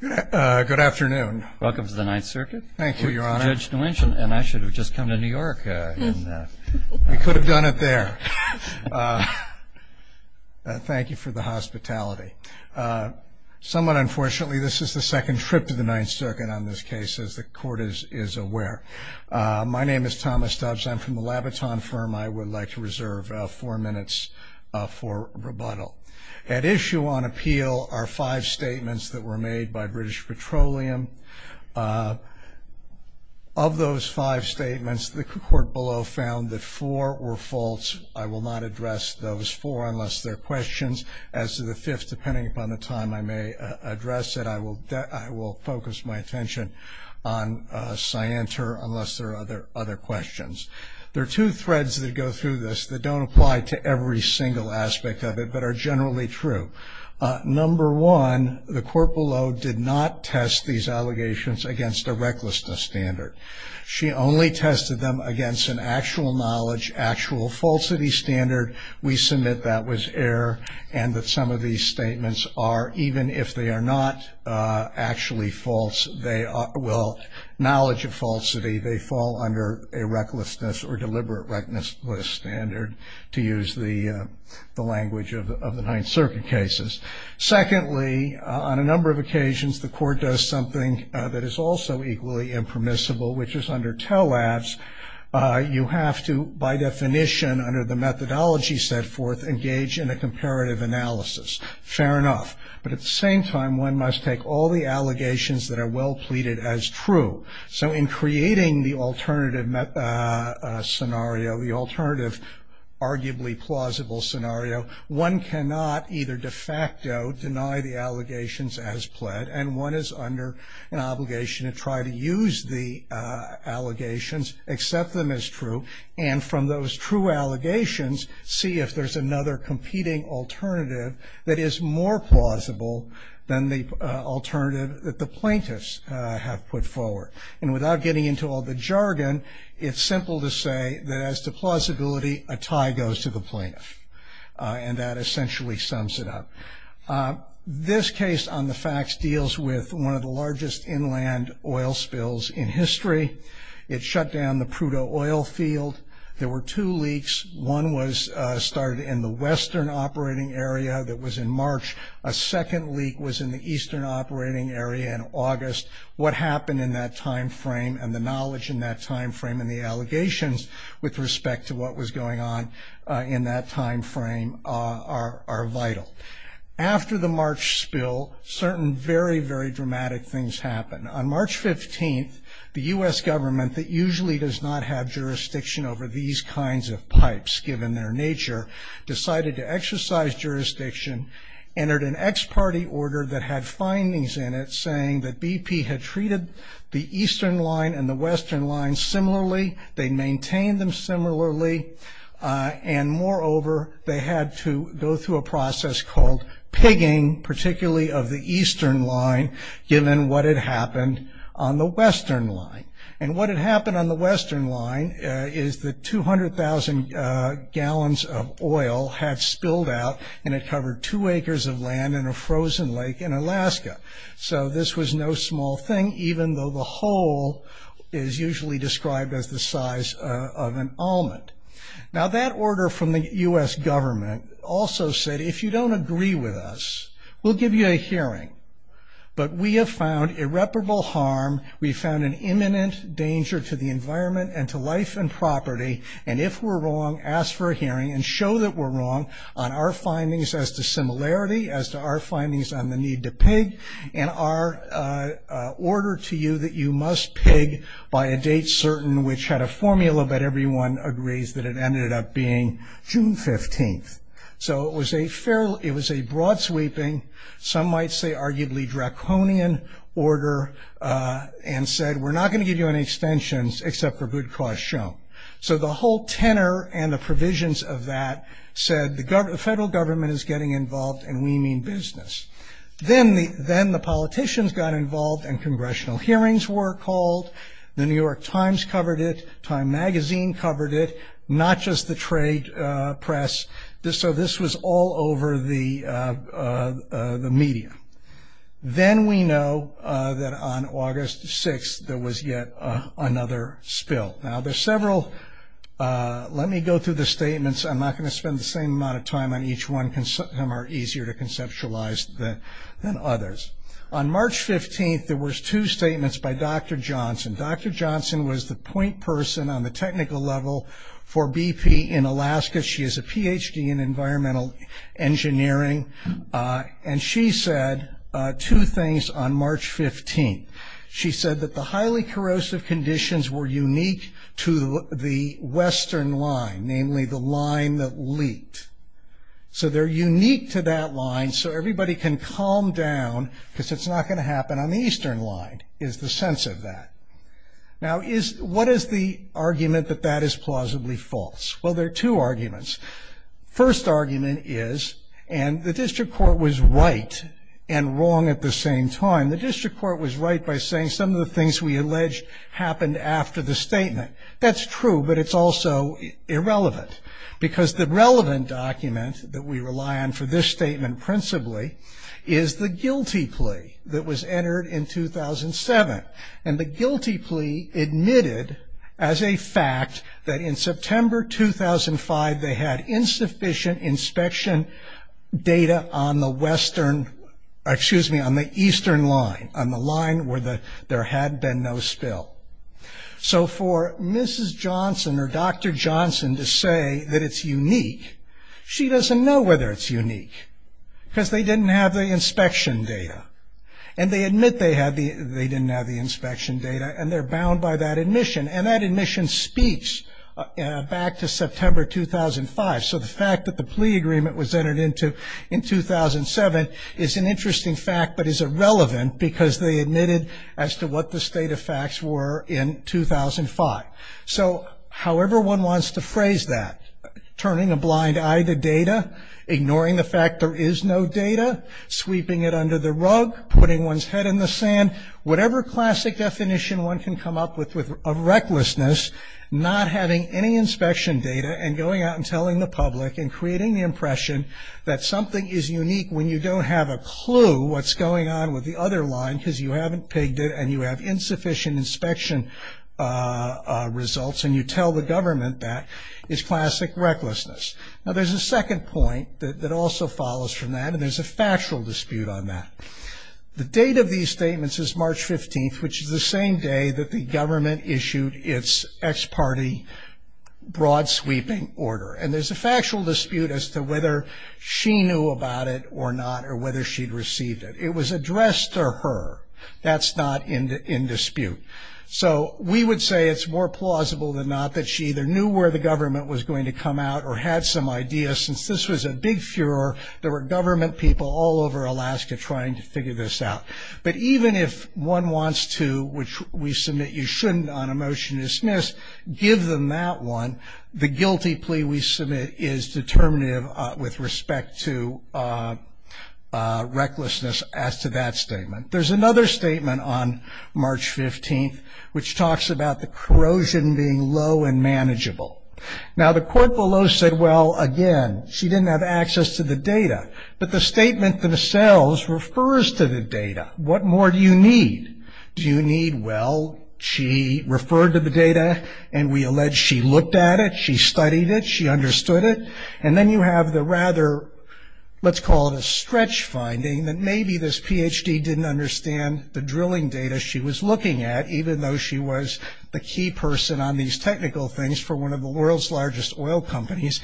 Good afternoon. Welcome to the Ninth Circuit. Thank you, Your Honor. Judge Nguyen, and I should have just come to New York. We could have done it there. Thank you for the hospitality. Somewhat unfortunately, this is the second trip to the Ninth Circuit on this case, as the Court is aware. My name is Thomas Doves. I'm from the Labaton firm. I would like to reserve four minutes for rebuttal. At issue on appeal are five statements that were made by British Petroleum. Of those five statements, the Court below found that four were false. I will not address those four unless they're questions. As to the fifth, depending upon the time I may address it, I will focus my attention on Scienter unless there are other questions. There are two threads that go through this that don't apply to every single aspect of it, but are generally true. Number one, the Court below did not test these allegations against a recklessness standard. She only tested them against an actual knowledge, actual falsity standard. We submit that was error and that some of these statements are, even if they are not actually false, they are, well, knowledge of falsity, they fall under a recklessness or deliberate recklessness standard, to use the language of the Ninth Circuit cases. Secondly, on a number of occasions, the Court does something that is also equally impermissible, which is under TELADS. You have to, by definition, under the methodology set forth, engage in a comparative analysis. Fair enough. But at the same time, one must take all the allegations that are well pleaded as true. So in creating the alternative scenario, the alternative arguably plausible scenario, one cannot either de facto deny the allegations as pled, and one is under an obligation to try to use the allegations, accept them as true, and from those true allegations, see if there's another competing alternative that is more plausible than the alternative that the plaintiffs have put forward. And without getting into all the jargon, it's simple to say that as to plausibility, a tie goes to the plaintiff. And that essentially sums it up. This case on the facts deals with one of the largest inland oil spills in history. It shut down the Prudhoe oil field. There were two leaks. One was started in the western operating area that was in March. A second leak was in the eastern operating area in August. What happened in that time frame and the knowledge in that time frame and the allegations with respect to what was going on in that time frame are vital. After the March spill, certain very, very dramatic things happened. On March 15th, the U.S. government, that usually does not have jurisdiction over these kinds of pipes, given their nature, decided to exercise jurisdiction, entered an ex parte order that had findings in it saying that BP had treated the eastern line and the western line similarly, they maintained them similarly, and moreover, they had to go through a process called pigging, particularly of the eastern line given what had happened on the western line. And what had happened on the western line is that 200,000 gallons of oil had spilled out and it covered two acres of land in a frozen lake in Alaska. So this was no small thing, even though the hole is usually described as the size of an almond. Now that order from the U.S. government also said, if you don't agree with us, we'll give you a hearing. But we have found irreparable harm, we've found an imminent danger to the environment and to life and property, and if we're wrong, ask for a hearing and show that we're wrong on our findings as to similarity, as to our findings on the need to pig, and our order to you that you must pig by a date certain, which had a formula that everyone agrees that it ended up being June 15th. So it was a broad sweeping, some might say arguably draconian order, and said we're not going to give you any extensions except for good cause shown. So the whole tenor and the provisions of that said the federal government is getting involved and we mean business. Then the politicians got involved and congressional hearings were called, the New York Times covered it, Time Magazine covered it, not just the trade press. So this was all over the media. Then we know that on August 6th there was yet another spill. Now there's several, let me go through the statements, I'm not going to spend the same amount of time on each one, some are easier to conceptualize than others. On March 15th there was two statements by Dr. Johnson. Dr. Johnson was the point person on the technical level for BP in Alaska. She has a Ph.D. in environmental engineering, and she said two things on March 15th. She said that the highly corrosive conditions were unique to the western line, namely the line that leaked. So they're unique to that line so everybody can calm down because it's not going to happen on the eastern line is the sense of that. Now what is the argument that that is plausibly false? Well, there are two arguments. First argument is, and the district court was right and wrong at the same time, the district court was right by saying some of the things we alleged happened after the statement. That's true, but it's also irrelevant. Because the relevant document that we rely on for this statement principally is the guilty plea that was entered in 2007. And the guilty plea admitted as a fact that in September 2005 they had insufficient inspection data on the western, excuse me, on the eastern line, on the line where there had been no spill. So for Mrs. Johnson or Dr. Johnson to say that it's unique, she doesn't know whether it's unique because they didn't have the inspection data. And they admit they didn't have the inspection data, and they're bound by that admission. And that admission speaks back to September 2005. So the fact that the plea agreement was entered into in 2007 is an interesting fact, but is irrelevant because they admitted as to what the state of facts were in 2005. So however one wants to phrase that, turning a blind eye to data, ignoring the fact there is no data, sweeping it under the rug, putting one's head in the sand, whatever classic definition one can come up with of recklessness, not having any inspection data and going out and telling the public and creating the impression that something is unique when you don't have a clue what's going on with the other line because you haven't pigged it and you have insufficient inspection results and you tell the government that is classic recklessness. Now there's a second point that also follows from that, and there's a factual dispute on that. The date of these statements is March 15th, which is the same day that the government issued its ex parte broad sweeping order. And there's a factual dispute as to whether she knew about it or not or whether she'd received it. It was addressed to her. That's not in dispute. So we would say it's more plausible than not that she either knew where the government was going to come out or had some idea since this was a big furor. There were government people all over Alaska trying to figure this out. But even if one wants to, which we submit you shouldn't on a motion to dismiss, give them that one, the guilty plea we submit is determinative with respect to recklessness as to that statement. There's another statement on March 15th which talks about the corrosion being low and manageable. Now the court below said, well, again, she didn't have access to the data. But the statement themselves refers to the data. What more do you need? Well, she referred to the data, and we allege she looked at it, she studied it, she understood it. And then you have the rather, let's call it a stretch finding, that maybe this Ph.D. didn't understand the drilling data she was looking at, even though she was the key person on these technical things for one of the world's largest oil companies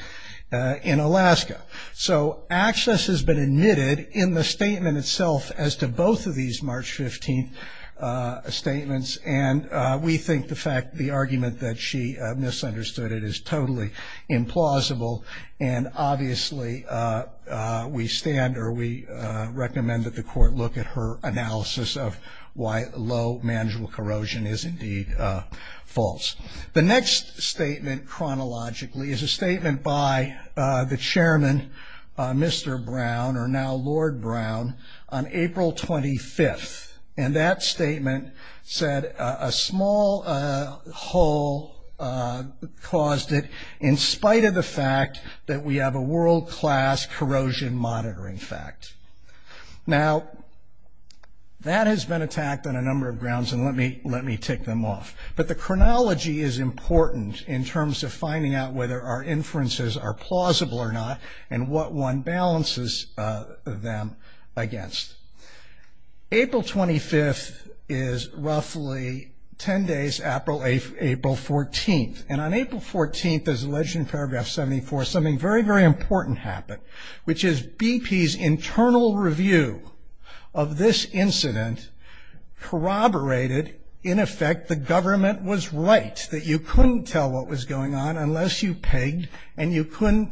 in Alaska. So access has been admitted in the statement itself as to both of these March 15th statements. And we think the fact, the argument that she misunderstood it is totally implausible. And obviously we stand or we recommend that the court look at her analysis of why low, manageable corrosion is indeed false. The next statement chronologically is a statement by the chairman, Mr. Brown, or now Lord Brown, on April 25th. And that statement said a small hole caused it in spite of the fact that we have a world-class corrosion monitoring fact. Now that has been attacked on a number of grounds, and let me tick them off. But the chronology is important in terms of finding out whether our inferences are plausible or not, and what one balances them against. April 25th is roughly ten days after April 14th. And on April 14th, as alleged in paragraph 74, something very, very important happened, which is BP's internal review of this incident corroborated, in effect, the government was right, that you couldn't tell what was going on unless you pegged, and you couldn't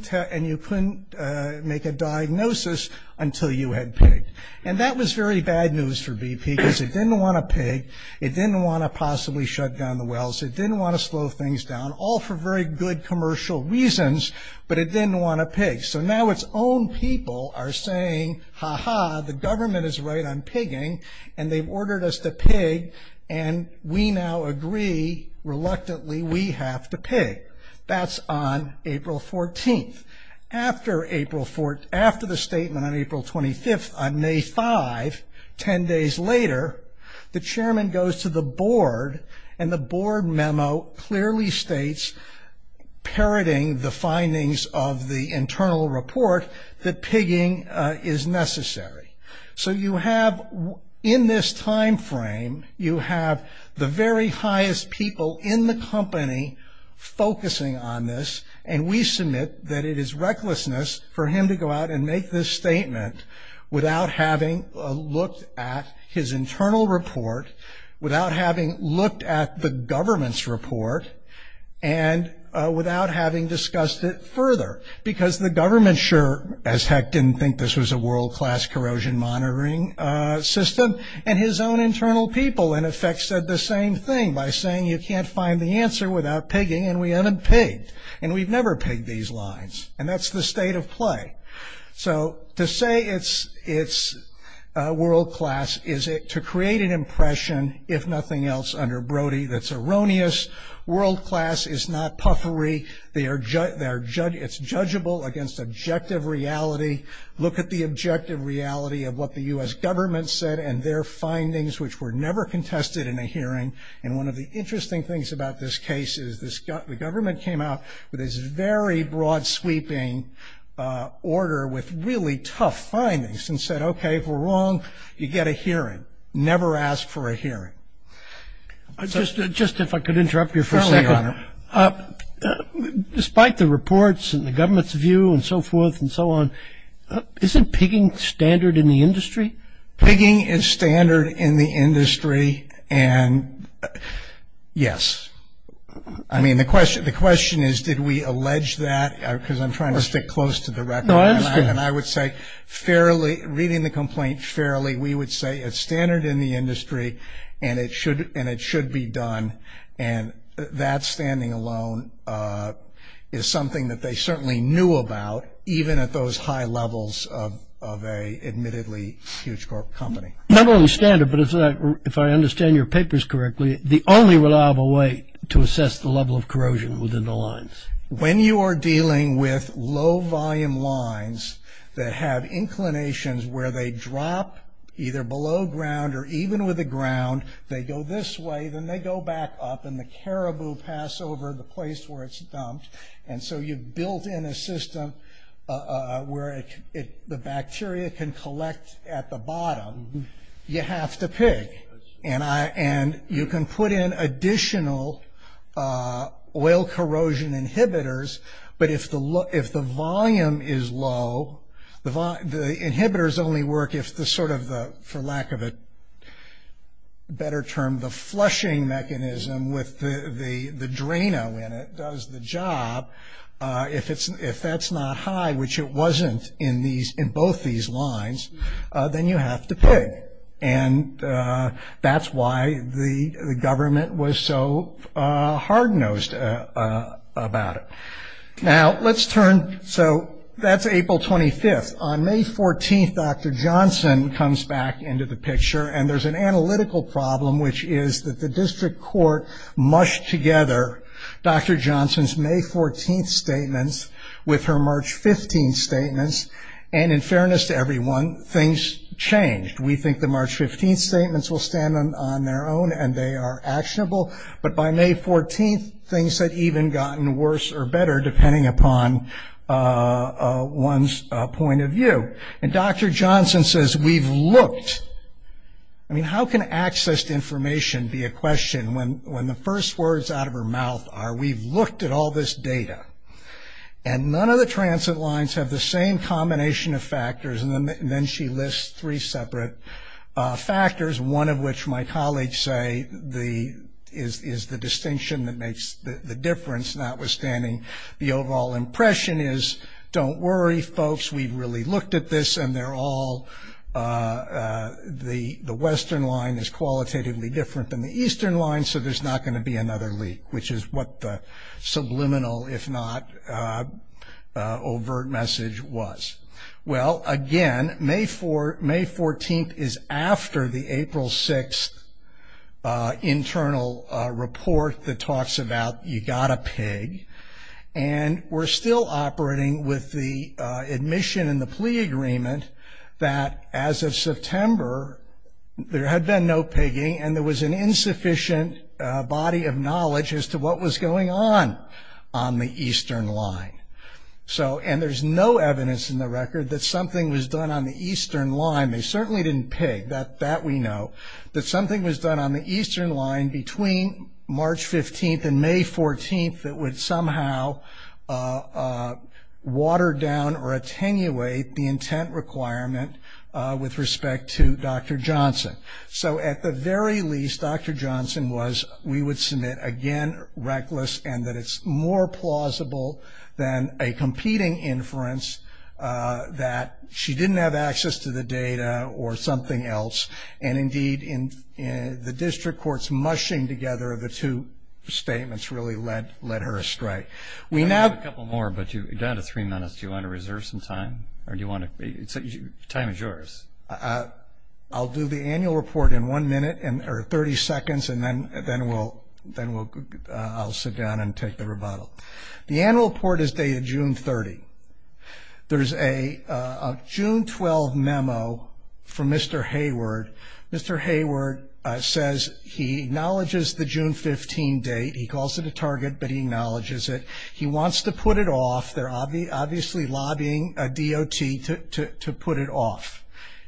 make a diagnosis until you had pegged. And that was very bad news for BP, because it didn't want to peg, it didn't want to possibly shut down the wells, it didn't want to slow things down, all for very good commercial reasons, but it didn't want to peg. So now its own people are saying, ha-ha, the government is right on pegging, and they've ordered us to peg, and we now agree, reluctantly, we have to peg. That's on April 14th. After the statement on April 25th, on May 5, ten days later, the chairman goes to the board, and the board memo clearly states, parroting the findings of the internal report, that pegging is necessary. So you have, in this time frame, you have the very highest people in the company focusing on this, and we submit that it is recklessness for him to go out and make this statement without having looked at his internal report, without having looked at the government's report, and without having discussed it further. Because the government sure as heck didn't think this was a world-class corrosion monitoring system, and his own internal people, in effect, said the same thing by saying you can't find the answer without pegging, and we haven't pegged, and we've never pegged these lines, and that's the state of play. So to say it's world-class is to create an impression, if nothing else, under Brody, that's erroneous. World-class is not puffery. It's judgeable against objective reality. Look at the objective reality of what the U.S. government said and their findings, which were never contested in a hearing, and one of the interesting things about this case is the government came out with this very broad-sweeping order with really tough findings and said, okay, if we're wrong, you get a hearing. Never ask for a hearing. Just if I could interrupt you for a second. Certainly, Your Honor. Despite the reports and the government's view and so forth and so on, isn't pegging standard in the industry? Pegging is standard in the industry, and yes. I mean, the question is, did we allege that? Because I'm trying to stick close to the record. No, I understand. And I would say fairly, reading the complaint fairly, we would say it's standard in the industry and it should be done, and that standing alone is something that they certainly knew about, even at those high levels of an admittedly huge company. Not only standard, but if I understand your papers correctly, the only reliable way to assess the level of corrosion within the lines. When you are dealing with low-volume lines that have inclinations where they drop either below ground or even with the ground, they go this way, then they go back up, and the caribou pass over the place where it's dumped, and so you've built in a system where the bacteria can collect at the bottom. You have to pick, and you can put in additional oil corrosion inhibitors, but if the volume is low, the inhibitors only work if the sort of, for lack of a better term, the flushing mechanism with the draina in it does the job. If that's not high, which it wasn't in both these lines, then you have to pick, and that's why the government was so hard-nosed about it. Now, let's turn, so that's April 25th. On May 14th, Dr. Johnson comes back into the picture, and there's an analytical problem, which is that the district court mushed together Dr. Johnson's May 14th statements with her March 15th statements, and in fairness to everyone, things changed. We think the March 15th statements will stand on their own, and they are actionable, but by May 14th, things had even gotten worse or better, depending upon one's point of view, and Dr. Johnson says, we've looked. I mean, how can access to information be a question when the first words out of her mouth are, we've looked at all this data, and none of the transit lines have the same combination of factors, and then she lists three separate factors, one of which my colleagues say is the distinction that makes the difference, notwithstanding the overall impression is, don't worry, folks, we've really looked at this, and they're all, the western line is qualitatively different than the eastern line, so there's not going to be another leak, which is what the subliminal, if not overt message was. Well, again, May 14th is after the April 6th internal report that talks about you've got to pig, and we're still operating with the admission and the plea agreement that as of September, there had been no pigging, and there was an insufficient body of knowledge as to what was going on on the eastern line, and there's no evidence in the record that something was done on the eastern line, they certainly didn't pig, that we know, that something was done on the eastern line between March 15th and May 14th that would somehow water down or attenuate the intent requirement with respect to Dr. Johnson. So at the very least, Dr. Johnson was, we would submit, again, reckless, and that it's more plausible than a competing inference that she didn't have access to the data or something else, and indeed the district court's mushing together of the two statements really led her astray. I have a couple more, but you're down to three minutes. Do you want to reserve some time, or do you want to, time is yours. I'll do the annual report in one minute, or 30 seconds, and then I'll sit down and take the rebuttal. The annual report is dated June 30. There's a June 12 memo from Mr. Hayward. Mr. Hayward says he acknowledges the June 15 date. He calls it a target, but he acknowledges it. He wants to put it off. They're obviously lobbying a DOT to put it off.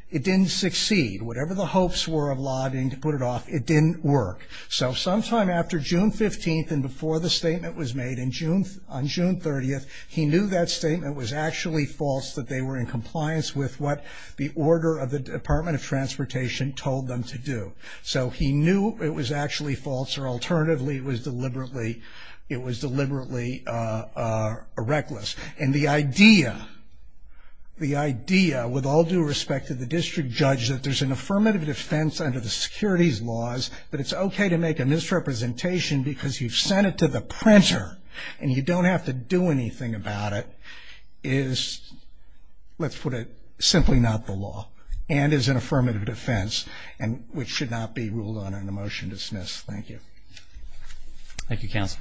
It didn't succeed. Whatever the hopes were of lobbying to put it off, it didn't work. So sometime after June 15th and before the statement was made on June 30th, he knew that statement was actually false, that they were in compliance with what the order of the Department of Transportation told them to do. So he knew it was actually false, or alternatively, it was deliberately reckless. And the idea, with all due respect to the district judge, that there's an affirmative defense under the securities laws, that it's okay to make a misrepresentation because you've sent it to the printer and you don't have to do anything about it is, let's put it, simply not the law and is an affirmative defense, which should not be ruled on in a motion to dismiss. Thank you. Thank you, counsel.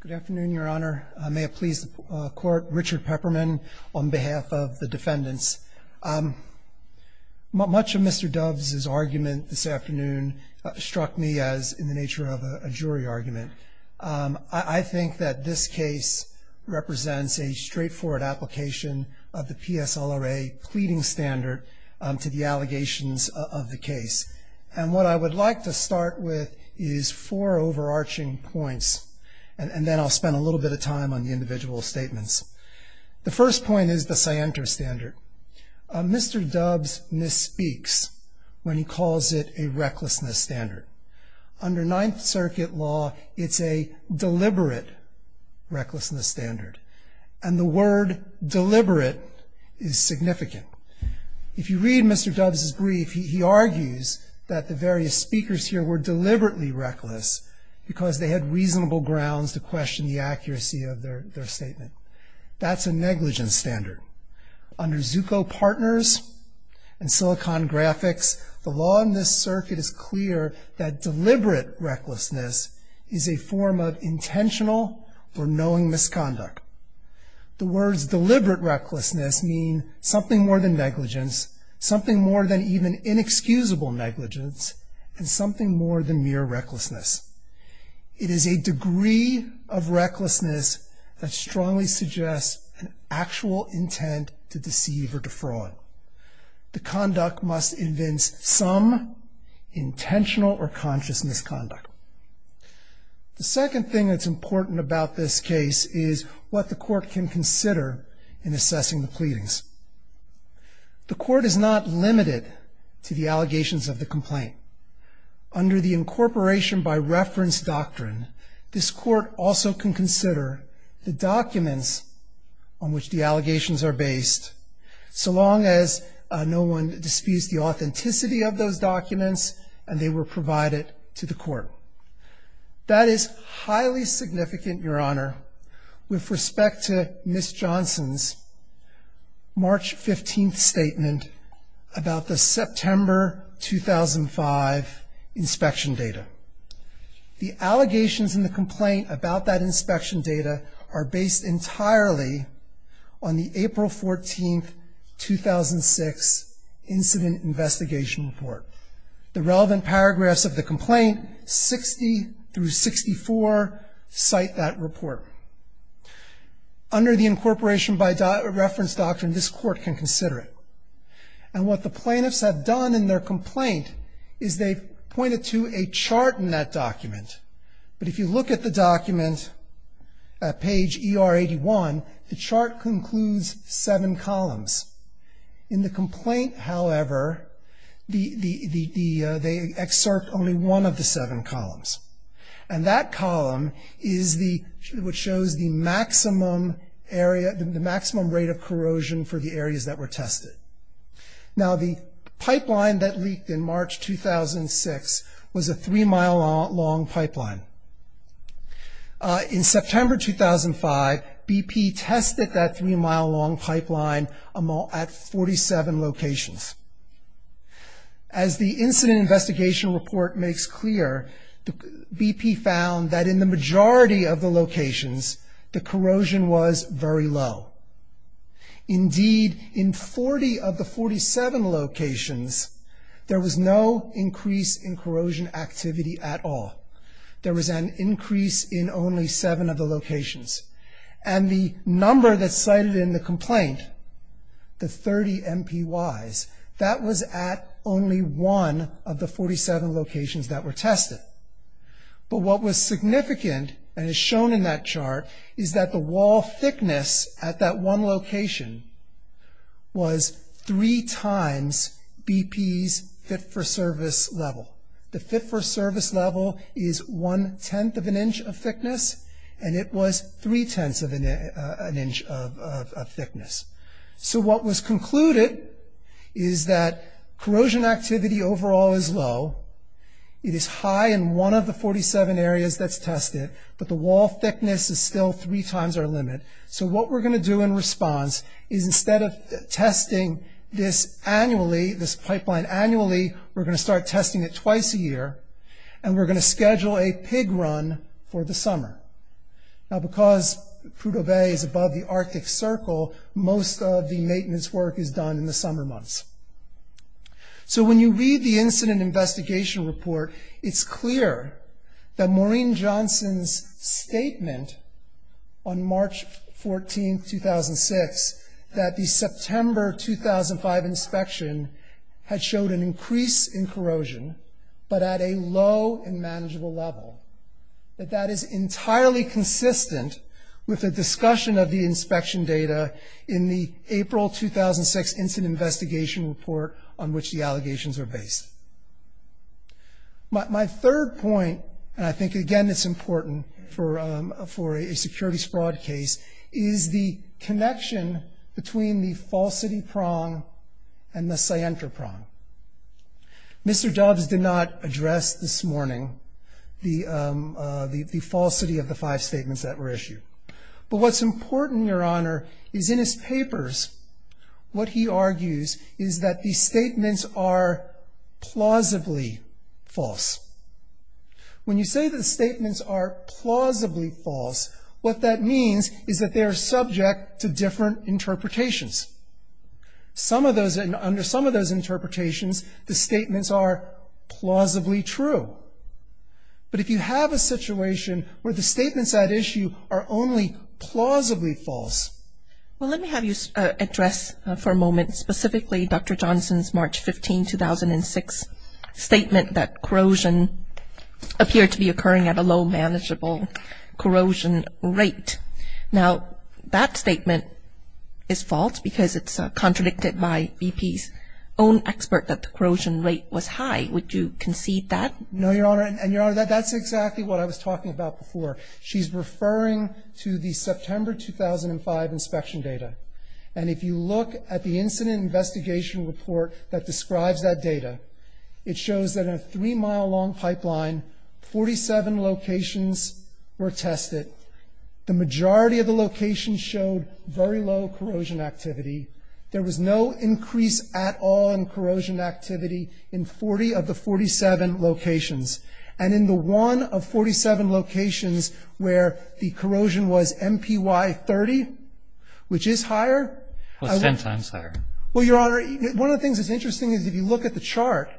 Good afternoon, Your Honor. May it please the Court, Richard Pepperman on behalf of the defendants. Much of Mr. Doves' argument this afternoon struck me as in the nature of a jury argument. I think that this case represents a straightforward application of the PSLRA pleading standard to the allegations of the case. And what I would like to start with is four overarching points, and then I'll spend a little bit of time on the individual statements. The first point is the scienter standard. Mr. Doves misspeaks when he calls it a recklessness standard. Under Ninth Circuit law, it's a deliberate recklessness standard, and the word deliberate is significant. If you read Mr. Doves' brief, he argues that the various speakers here were deliberately reckless because they had reasonable grounds to question the accuracy of their statement. That's a negligence standard. Under Zucco Partners and Silicon Graphics, the law in this circuit is clear that deliberate recklessness is a form of intentional or knowing misconduct. The words deliberate recklessness mean something more than negligence, something more than even inexcusable negligence, and something more than mere recklessness. It is a degree of recklessness that strongly suggests an actual intent to deceive or defraud. The conduct must convince some intentional or conscious misconduct. The second thing that's important about this case is what the court can consider in assessing the pleadings. The court is not limited to the allegations of the complaint. Under the incorporation by reference doctrine, this court also can consider the documents on which the allegations are based so long as no one disputes the authenticity of those documents and they were provided to the court. That is highly significant, Your Honor, with respect to Ms. Johnson's March 15th statement about the September 2005 inspection data. The allegations in the complaint about that inspection data are based entirely on the April 14th, 2006 incident investigation report. The relevant paragraphs of the complaint, 60 through 64, cite that report. Under the incorporation by reference doctrine, this court can consider it. And what the plaintiffs have done in their complaint is they've pointed to a chart in that document. But if you look at the document at page ER 81, the chart concludes seven columns. In the complaint, however, they excerpt only one of the seven columns. And that column is what shows the maximum rate of corrosion for the areas that were tested. Now, the pipeline that leaked in March 2006 was a three-mile long pipeline. In September 2005, BP tested that three-mile long pipeline at 47 locations. As the incident investigation report makes clear, BP found that in the majority of the locations, the corrosion was very low. Indeed, in 40 of the 47 locations, there was no increase in corrosion activity at all. There was an increase in only seven of the locations. And the number that's cited in the complaint, the 30 MPYs, that was at only one of the 47 locations that were tested. But what was significant and is shown in that chart is that the wall thickness at that one location was three times BP's fit-for-service level. The fit-for-service level is one-tenth of an inch of thickness, and it was three-tenths of an inch of thickness. So what was concluded is that corrosion activity overall is low. It is high in one of the 47 areas that's tested, but the wall thickness is still three times our limit. So what we're going to do in response is instead of testing this annually, this pipeline annually, we're going to start testing it twice a year, and we're going to schedule a pig run for the summer. Now because Prudhoe Bay is above the Arctic Circle, most of the maintenance work is done in the summer months. So when you read the incident investigation report, it's clear that Maureen Johnson's statement on March 14, 2006, that the September 2005 inspection had showed an increase in corrosion, but at a low and manageable level, that that is entirely consistent with the discussion of the inspection data in the April 2006 incident investigation report on which the allegations are based. My third point, and I think again it's important for a securities fraud case, is the connection between the falsity prong and the scienter prong. Mr. Doves did not address this morning the falsity of the five statements that were issued. But what's important, Your Honor, is in his papers, what he argues is that the statements are plausibly false. When you say the statements are plausibly false, what that means is that they are subject to different interpretations. Under some of those interpretations, the statements are plausibly true. But if you have a situation where the statements at issue are only plausibly false. Well, let me have you address for a moment specifically Dr. Johnson's March 15, 2006, statement that corrosion appeared to be occurring at a low manageable corrosion rate. Now, that statement is false because it's contradicted by BP's own expert that the corrosion rate was high. Would you concede that? No, Your Honor. And, Your Honor, that's exactly what I was talking about before. She's referring to the September 2005 inspection data. And if you look at the incident investigation report that describes that data, it shows that in a three-mile long pipeline, 47 locations were tested. The majority of the locations showed very low corrosion activity. There was no increase at all in corrosion activity in 40 of the 47 locations. And in the one of 47 locations where the corrosion was MPY 30, which is higher. It was ten times higher. Well, Your Honor, one of the things that's interesting is if you look at the chart,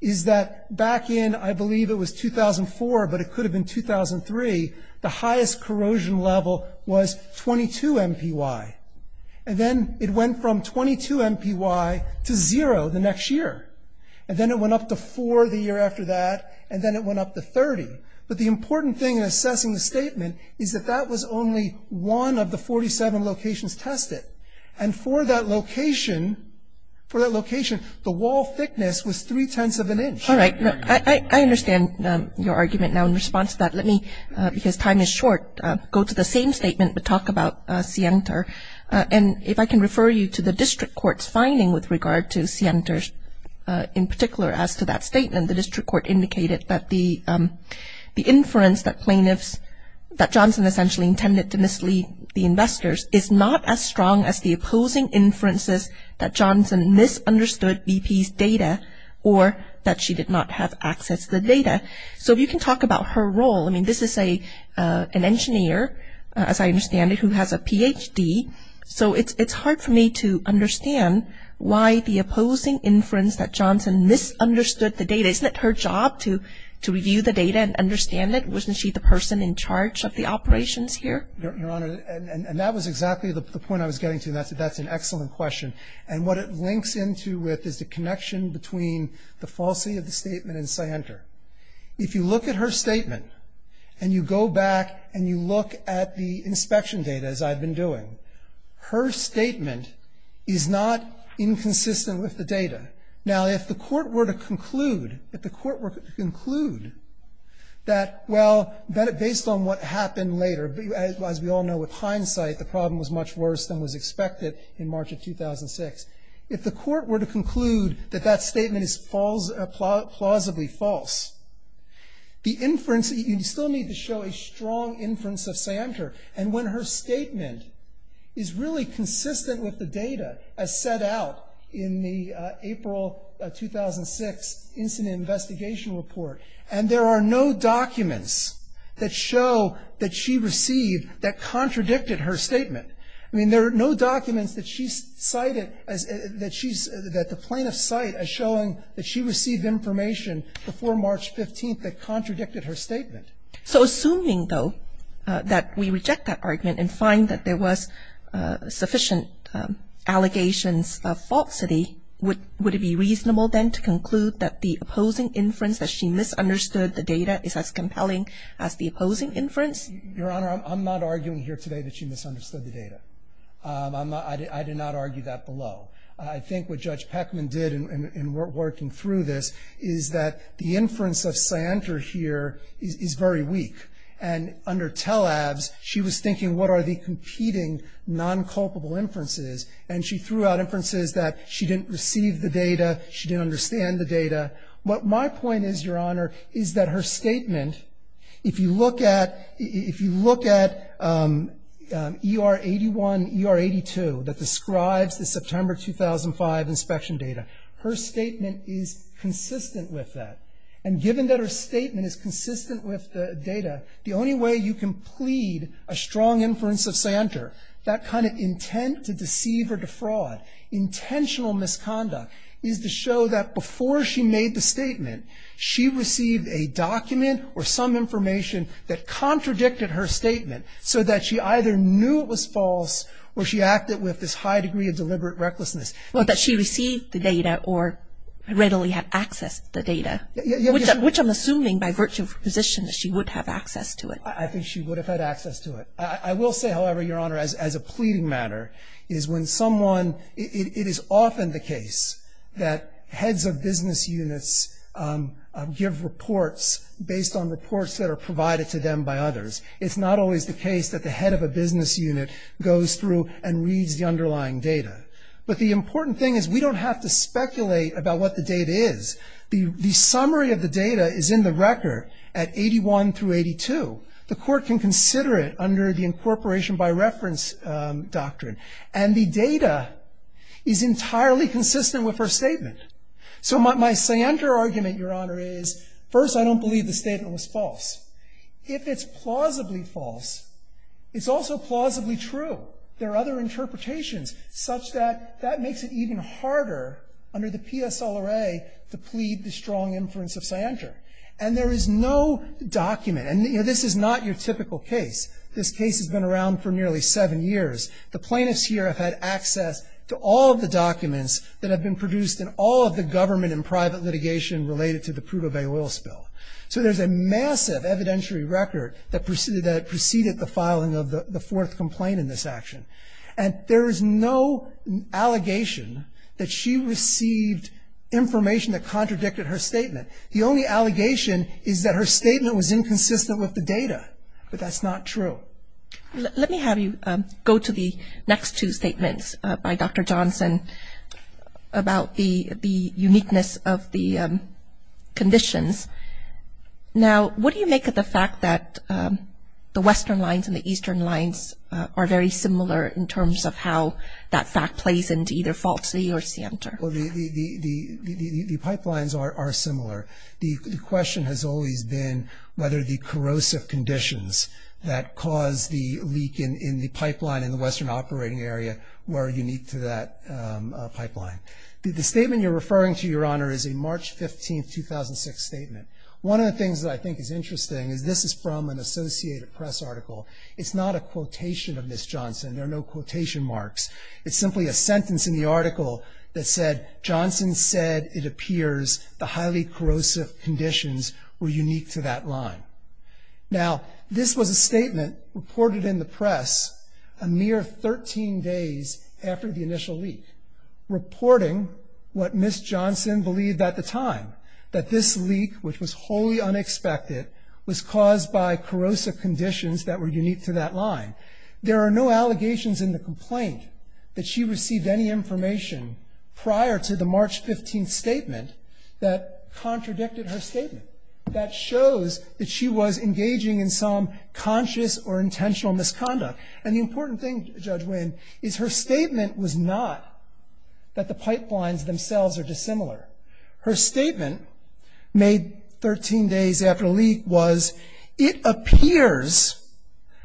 is that back in, I believe it was 2004, but it could have been 2003, the highest corrosion level was 22 MPY. And then it went from 22 MPY to zero the next year. And then it went up to four the year after that. And then it went up to 30. But the important thing in assessing the statement is that that was only one of the 47 locations tested. And for that location, for that location, the wall thickness was three-tenths of an inch. All right. I understand your argument now in response to that. Let me, because time is short, go to the same statement, but talk about Sienter. And if I can refer you to the district court's finding with regard to Sienter, in particular as to that statement, the district court indicated that the inference that plaintiffs, that Johnson essentially intended to mislead the investors, is not as strong as the opposing inferences that Johnson misunderstood BP's data or that she did not have access to the data. So if you can talk about her role. I mean, this is an engineer, as I understand it, who has a Ph.D. So it's hard for me to understand why the opposing inference that Johnson misunderstood the data. Isn't it her job to review the data and understand it? Wasn't she the person in charge of the operations here? Your Honor, and that was exactly the point I was getting to. That's an excellent question. And what it links into with is the connection between the falsity of the statement and Sienter. If you look at her statement and you go back and you look at the inspection data, as I've been doing, her statement is not inconsistent with the data. Now, if the Court were to conclude, if the Court were to conclude that, well, based on what happened later, as we all know with hindsight, the problem was much worse than was expected in March of 2006. If the Court were to conclude that that statement is plausibly false, the inference, you still need to show a strong inference of Sienter. And when her statement is really consistent with the data as set out in the April 2006 incident investigation report, and there are no documents that show that she received that contradicted her statement. I mean, there are no documents that she cited that she's – that the plaintiffs cite as showing that she received information before March 15th that contradicted her statement. So assuming, though, that we reject that argument and find that there was sufficient allegations of falsity, would it be reasonable then to conclude that the opposing inference, that she misunderstood the data, is as compelling as the opposing inference? Your Honor, I'm not arguing here today that she misunderstood the data. I'm not – I did not argue that below. I think what Judge Peckman did in working through this is that the inference of Sienter here is very weak. And under Tel Avs, she was thinking, what are the competing nonculpable inferences? And she threw out inferences that she didn't receive the data, she didn't understand the data. What my point is, Your Honor, is that her statement, if you look at – if you look at ER 81, ER 82, that describes the September 2005 inspection data, her statement is consistent with that. And given that her statement is consistent with the data, the only way you can plead a strong inference of Sienter, that kind of intent to deceive or defraud, intentional misconduct, is to show that before she made the statement, she received a document or some information that contradicted her statement so that she either knew it was false or she acted with this high degree of deliberate recklessness. Well, that she received the data or readily had access to the data, which I'm assuming by virtue of position that she would have access to it. I think she would have had access to it. I will say, however, Your Honor, as a pleading matter, is when someone – it is often the case that heads of business units give reports based on reports that are provided to them by others. It's not always the case that the head of a business unit goes through and reads the underlying data. But the important thing is we don't have to speculate about what the data is. The summary of the data is in the record at 81 through 82. The court can consider it under the incorporation by reference doctrine. And the data is entirely consistent with her statement. So my Sienter argument, Your Honor, is first, I don't believe the statement was false. If it's plausibly false, it's also plausibly true. There are other interpretations such that that makes it even harder under the PSLRA to plead the strong inference of Sienter. And there is no document – and this is not your typical case. This case has been around for nearly seven years. The plaintiffs here have had access to all of the documents that have been produced in all of the government and private litigation related to the Prudhoe Bay oil spill. So there's a massive evidentiary record that preceded the filing of the fourth complaint in this action. And there is no allegation that she received information that contradicted her statement. The only allegation is that her statement was inconsistent with the data. But that's not true. Let me have you go to the next two statements by Dr. Johnson about the uniqueness of the conditions. Now, what do you make of the fact that the western lines and the eastern lines are very similar in terms of how that fact plays into either falsely or Sienter? Well, the pipelines are similar. The question has always been whether the corrosive conditions that cause the leak in the pipeline in the western operating area were unique to that pipeline. The statement you're referring to, Your Honor, is a March 15, 2006 statement. One of the things that I think is interesting is this is from an Associated Press article. It's not a quotation of Ms. Johnson. There are no quotation marks. It's simply a sentence in the article that said, Johnson said it appears the highly corrosive conditions were unique to that line. Now, this was a statement reported in the press a mere 13 days after the initial leak, reporting what Ms. Johnson believed at the time, that this leak, which was wholly unexpected, was caused by corrosive conditions that were unique to that line. There are no allegations in the complaint that she received any information prior to the March 15 statement that contradicted her statement, that shows that she was engaging in some conscious or intentional misconduct. And the important thing, Judge Winn, is her statement was not that the pipelines themselves are dissimilar. Her statement made 13 days after leak was, it appears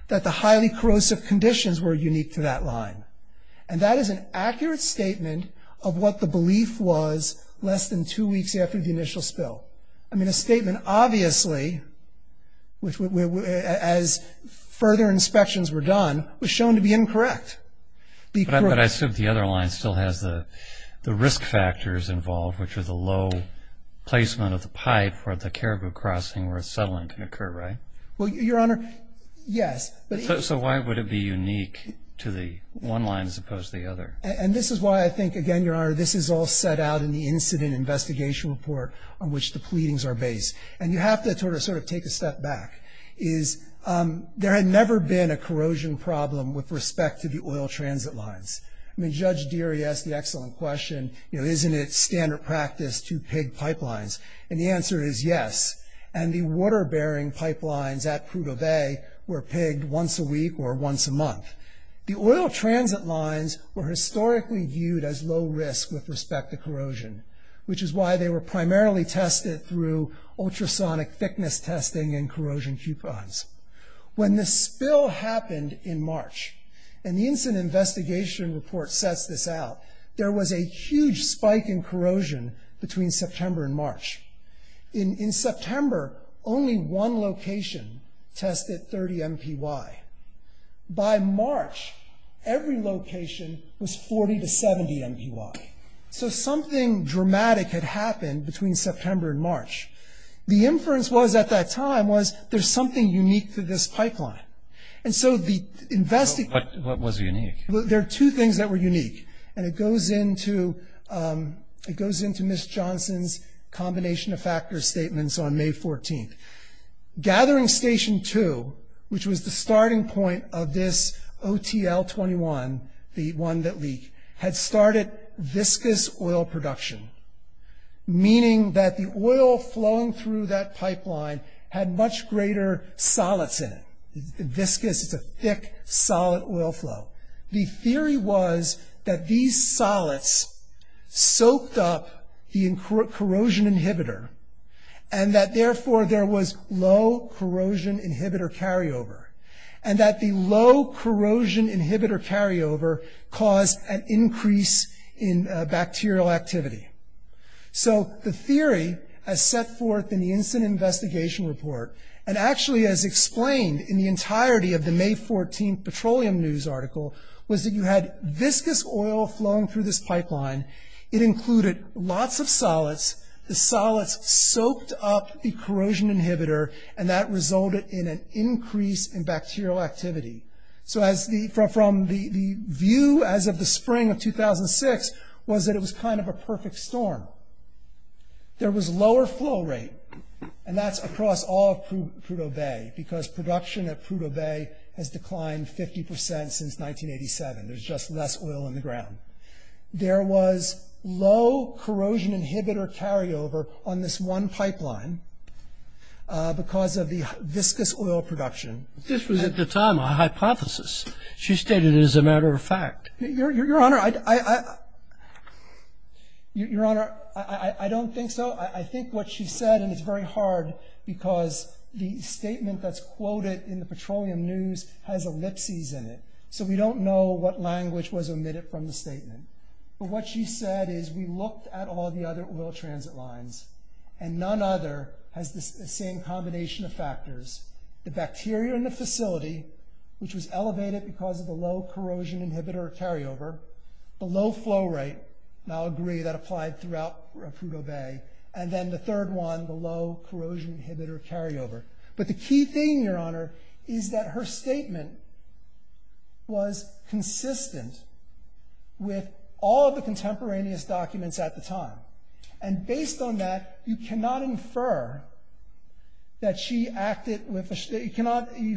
that the highly corrosive conditions were unique to that line. And that is an accurate statement of what the belief was less than two weeks after the initial spill. I mean, a statement obviously, as further inspections were done, was shown to be incorrect. But I assume the other line still has the risk factors involved, which are the low placement of the pipe or the caribou crossing where settling can occur, right? Well, Your Honor, yes. So why would it be unique to the one line as opposed to the other? And this is why I think, again, Your Honor, this is all set out in the incident investigation report on which the pleadings are based. And you have to sort of take a step back, is there had never been a corrosion problem with respect to the oil transit lines? I mean, Judge Deary asked the excellent question, you know, isn't it standard practice to pig pipelines? And the answer is yes. And the water bearing pipelines at Prudhoe Bay were pigged once a week or once a month. The oil transit lines were historically viewed as low risk with respect to corrosion, which is why they were primarily tested through ultrasonic thickness testing and corrosion coupons. When the spill happened in March, and the incident investigation report sets this out, there was a huge spike in corrosion between September and March. In September, only one location tested 30 MPY. By March, every location was 40 to 70 MPY. So something dramatic had happened between September and March. The inference was, at that time, was there's something unique to this pipeline. And so the investigation. What was unique? There are two things that were unique, and it goes into Ms. Johnson's combination of factors statements on May 14th. Gathering Station 2, which was the starting point of this OTL-21, the one that leaked, had started viscous oil production, meaning that the oil flowing through that pipeline had much greater solids in it. Viscous is a thick, solid oil flow. The theory was that these solids soaked up the corrosion inhibitor, and that therefore there was low corrosion inhibitor carryover, and that the low corrosion inhibitor carryover caused an increase in bacterial activity. So the theory, as set forth in the incident investigation report, and actually as explained in the entirety of the May 14th Petroleum News article, was that you had viscous oil flowing through this pipeline. It included lots of solids. The solids soaked up the corrosion inhibitor, and that resulted in an increase in bacterial activity. So from the view, as of the spring of 2006, was that it was kind of a perfect storm. There was lower flow rate, and that's across all of Prudhoe Bay, because production at Prudhoe Bay has declined 50% since 1987. There's just less oil in the ground. There was low corrosion inhibitor carryover on this one pipeline because of the viscous oil production. This was, at the time, a hypothesis. She stated it as a matter of fact. Your Honor, I don't think so. I think what she said, and it's very hard because the statement that's quoted in the Petroleum News has ellipses in it, so we don't know what language was omitted from the statement. But what she said is we looked at all the other oil transit lines, and none other has the same combination of factors. The bacteria in the facility, which was elevated because of the low corrosion inhibitor carryover, the low flow rate, and I'll agree that applied throughout Prudhoe Bay, and then the third one, the low corrosion inhibitor carryover. But the key thing, Your Honor, is that her statement was consistent with all the contemporaneous documents at the time. And based on that, you cannot infer that she acted with a, you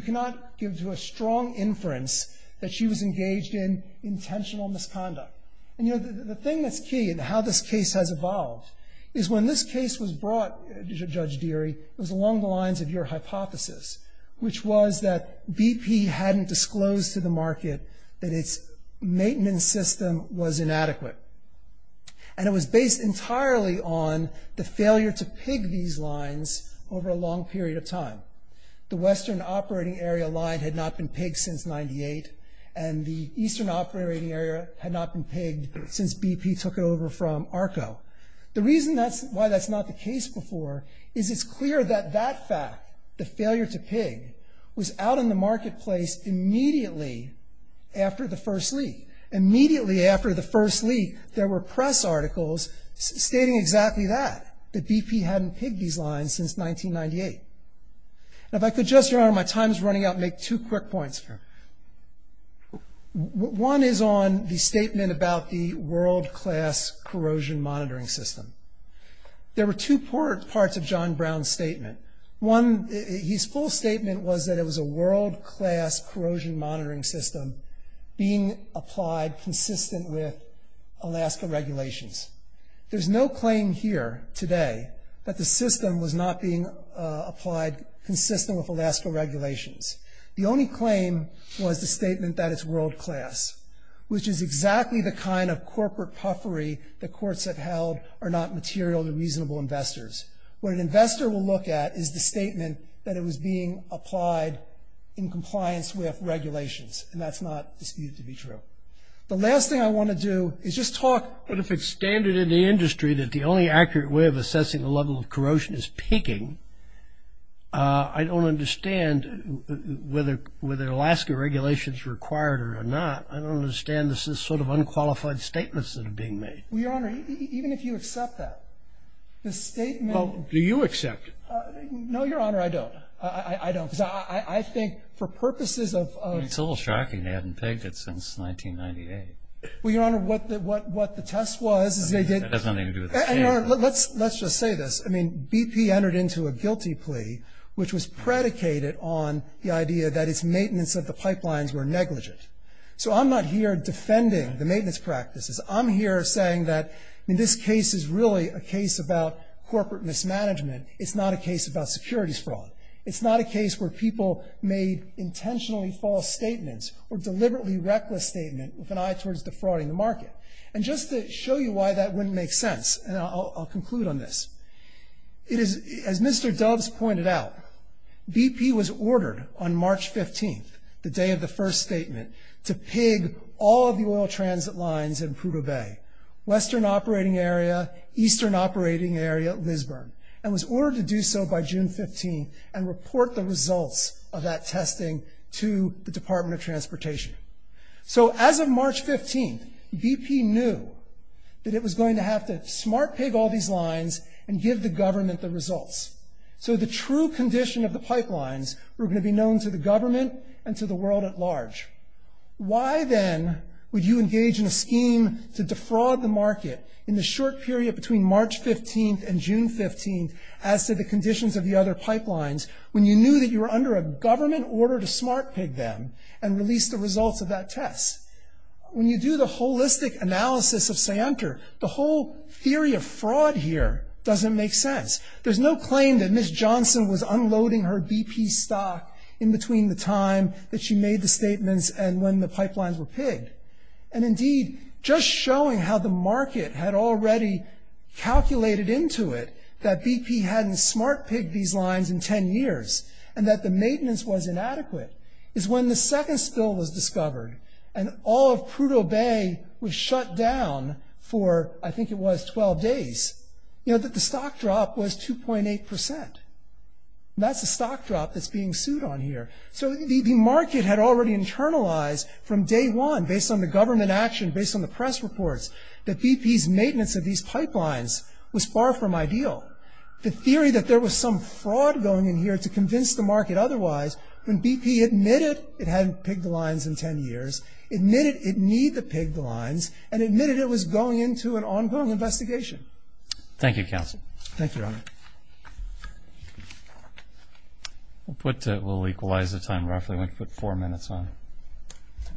cannot give to a strong inference that she was engaged in intentional misconduct. And, you know, the thing that's key in how this case has evolved is when this case was brought, Judge Deary, it was along the lines of your hypothesis, which was that BP hadn't disclosed to the market that its maintenance system was inadequate. And it was based entirely on the failure to pig these lines over a long period of time. The western operating area line had not been pigged since 98, and the eastern operating area had not been pigged since BP took it over from ARCO. The reason that's why that's not the case before is it's clear that that fact, the failure to pig, was out in the marketplace immediately after the first leak. Immediately after the first leak, there were press articles stating exactly that, that BP hadn't pigged these lines since 1998. Now, if I could just, Your Honor, my time is running out, make two quick points. One is on the statement about the world-class corrosion monitoring system. There were two parts of John Brown's statement. One, his full statement was that it was a world-class corrosion monitoring system being applied consistent with Alaska regulations. There's no claim here today that the system was not being applied consistent with Alaska regulations. The only claim was the statement that it's world-class, which is exactly the kind of corporate puffery the courts have held are not material and reasonable investors. What an investor will look at is the statement that it was being applied in The last thing I want to do is just talk. But if it's standard in the industry that the only accurate way of assessing the level of corrosion is pigging, I don't understand whether Alaska regulations are required or not. I don't understand this sort of unqualified statements that are being made. Well, Your Honor, even if you accept that, the statement. Well, do you accept it? No, Your Honor, I don't. I don't. Because I think for purposes of... It's a little shocking they haven't pegged it since 1998. Well, Your Honor, what the test was is they did... That has nothing to do with this case. Let's just say this. BP entered into a guilty plea, which was predicated on the idea that its maintenance of the pipelines were negligent. So I'm not here defending the maintenance practices. I'm here saying that this case is really a case about corporate mismanagement. It's not a case about securities fraud. It's not a case where people made intentionally false statements or deliberately reckless statements with an eye towards defrauding the market. And just to show you why that wouldn't make sense, and I'll conclude on this, as Mr. Doves pointed out, BP was ordered on March 15th, the day of the first statement, to pig all of the oil transit lines in Prudhoe Bay, western operating area, eastern operating area, and was ordered to do so by June 15th and report the results of that testing to the Department of Transportation. So as of March 15th, BP knew that it was going to have to smart pig all these lines and give the government the results. So the true condition of the pipelines were going to be known to the government and to the world at large. Why then would you engage in a scheme to defraud the market in the short period between March 15th and June 15th, as to the conditions of the other pipelines, when you knew that you were under a government order to smart pig them and release the results of that test? When you do the holistic analysis of Scienter, the whole theory of fraud here doesn't make sense. There's no claim that Ms. Johnson was unloading her BP stock in between the time that she made the statements and when the pipelines were pigged. And indeed, just showing how the market had already calculated into it that BP hadn't smart pigged these lines in 10 years, and that the maintenance was inadequate, is when the second spill was discovered, and all of Prudhoe Bay was shut down for, I think it was, 12 days, you know, that the stock drop was 2.8%. That's the stock drop that's being sued on here. So the market had already internalized from day one, based on the government action, based on the press reports, that BP's maintenance of these pipelines was far from ideal. The theory that there was some fraud going in here to convince the market otherwise, when BP admitted it hadn't pigged the lines in 10 years, admitted it needed to pig the lines, and admitted it was going into an ongoing investigation. Thank you, counsel. Thank you, Your Honor. We'll equalize the time roughly. I'm going to put four minutes on.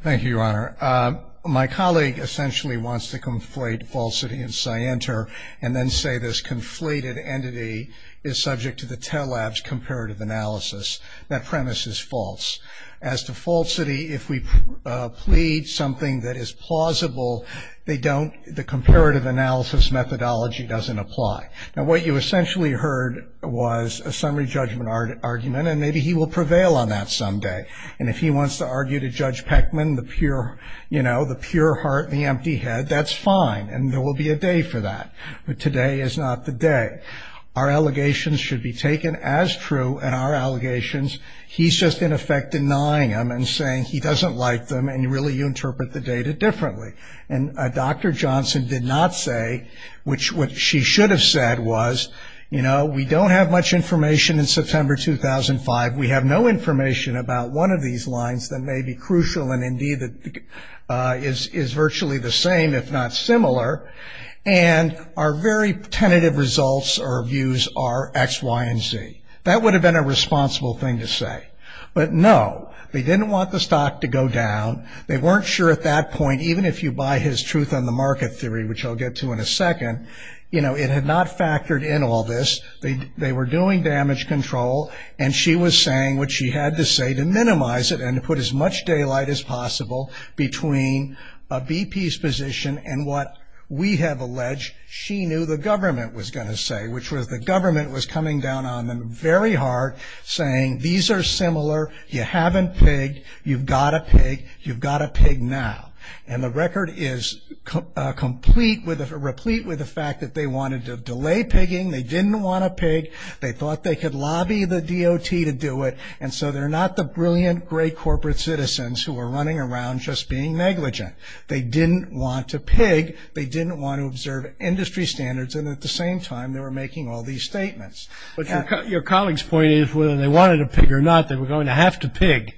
Thank you, Your Honor. My colleague essentially wants to conflate falsity and scienter, and then say this conflated entity is subject to the Telabs comparative analysis. That premise is false. As to falsity, if we plead something that is plausible, the comparative analysis methodology doesn't apply. Now, what you essentially heard was a summary judgment argument, and maybe he will prevail on that someday. And if he wants to argue to Judge Peckman the pure heart and the empty head, that's fine, and there will be a day for that. But today is not the day. Our allegations should be taken as true, and our allegations, he's just in effect denying them and saying he doesn't like them, and really you interpret the data differently. And Dr. Johnson did not say, which what she should have said was, you know, we don't have much information in September 2005. We have no information about one of these lines that may be crucial, and indeed is virtually the same, if not similar. And our very tentative results or views are X, Y, and Z. That would have been a responsible thing to say. But, no, they didn't want the stock to go down. They weren't sure at that point, even if you buy his truth on the market theory, which I'll get to in a second, you know, it had not factored in all this. They were doing damage control, and she was saying what she had to say to minimize it and to put as much daylight as possible between a BP's position and what we have alleged she knew the government was going to say, which was the government was coming down on them very hard, saying, these are similar, you haven't pigged, you've got to pig, you've got to pig now. And the record is complete with the fact that they wanted to delay pigging, they didn't want to pig, they thought they could lobby the DOT to do it, and so they're not the brilliant, great corporate citizens who are running around just being negligent. They didn't want to pig, they didn't want to observe industry standards, and at the same time they were making all these statements. But your colleague's point is whether they wanted to pig or not, they were going to have to pig,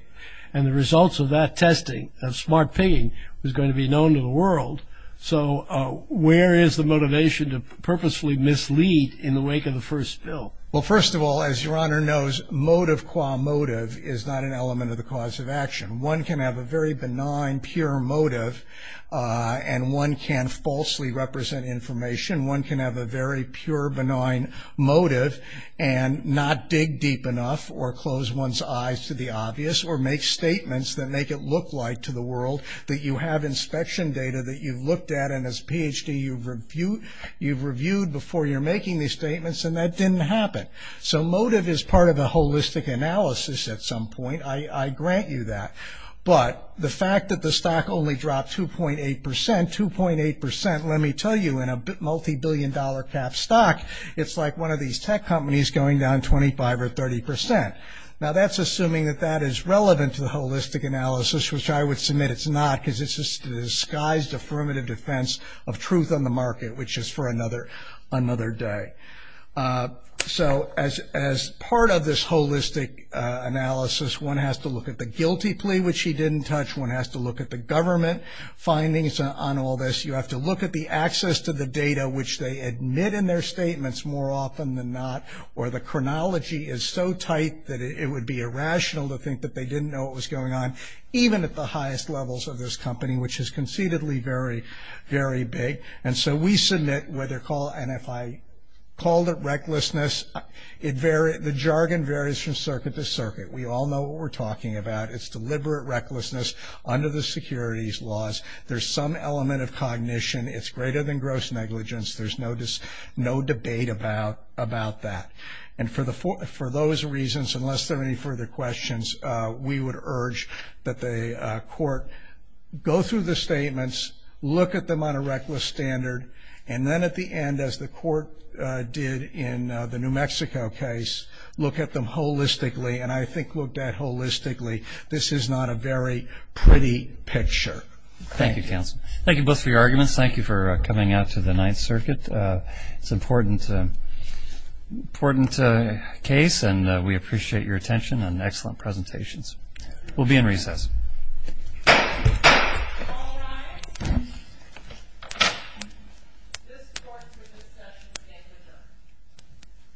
and the results of that testing, of smart pigging was going to be known to the world. So where is the motivation to purposefully mislead in the wake of the first bill? Well, first of all, as Your Honor knows, motive qua motive is not an element of the cause of action. One can have a very benign, pure motive, and one can falsely represent information. One can have a very pure, benign motive, and not dig deep enough, or close one's eyes to the obvious, or make statements that make it look like to the world that you have inspection data that you've looked at, and as a Ph.D. you've reviewed before you're making these statements, and that didn't happen. So motive is part of the holistic analysis at some point, I grant you that. But the fact that the stock only dropped 2.8 percent, let me tell you, in a multi-billion dollar cap stock, it's like one of these tech companies going down 25 or 30 percent. Now that's assuming that that is relevant to the holistic analysis, which I would submit it's not, because it's just a disguised affirmative defense of truth on the market, which is for another day. So as part of this holistic analysis, one has to look at the guilty plea, which he didn't touch. One has to look at the government findings on all this. You have to look at the access to the data, which they admit in their statements more often than not, or the chronology is so tight that it would be irrational to think that they didn't know what was going on, even at the highest levels of this company, which is conceitedly very, very big. And so we submit, and if I called it recklessness, the jargon varies from circuit to circuit. We all know what we're talking about. It's deliberate recklessness under the securities laws. There's some element of cognition. It's greater than gross negligence. There's no debate about that. And for those reasons, unless there are any further questions, we would urge that the court go through the statements, look at them on a reckless standard, and then at the end, as the court did in the New Mexico case, look at them holistically, and I think looked at holistically, this is not a very pretty picture. Thank you, counsel. Thank you both for your arguments. Thank you for coming out to the Ninth Circuit. It's an important case, and we appreciate your attention and excellent presentations. We'll be in recess.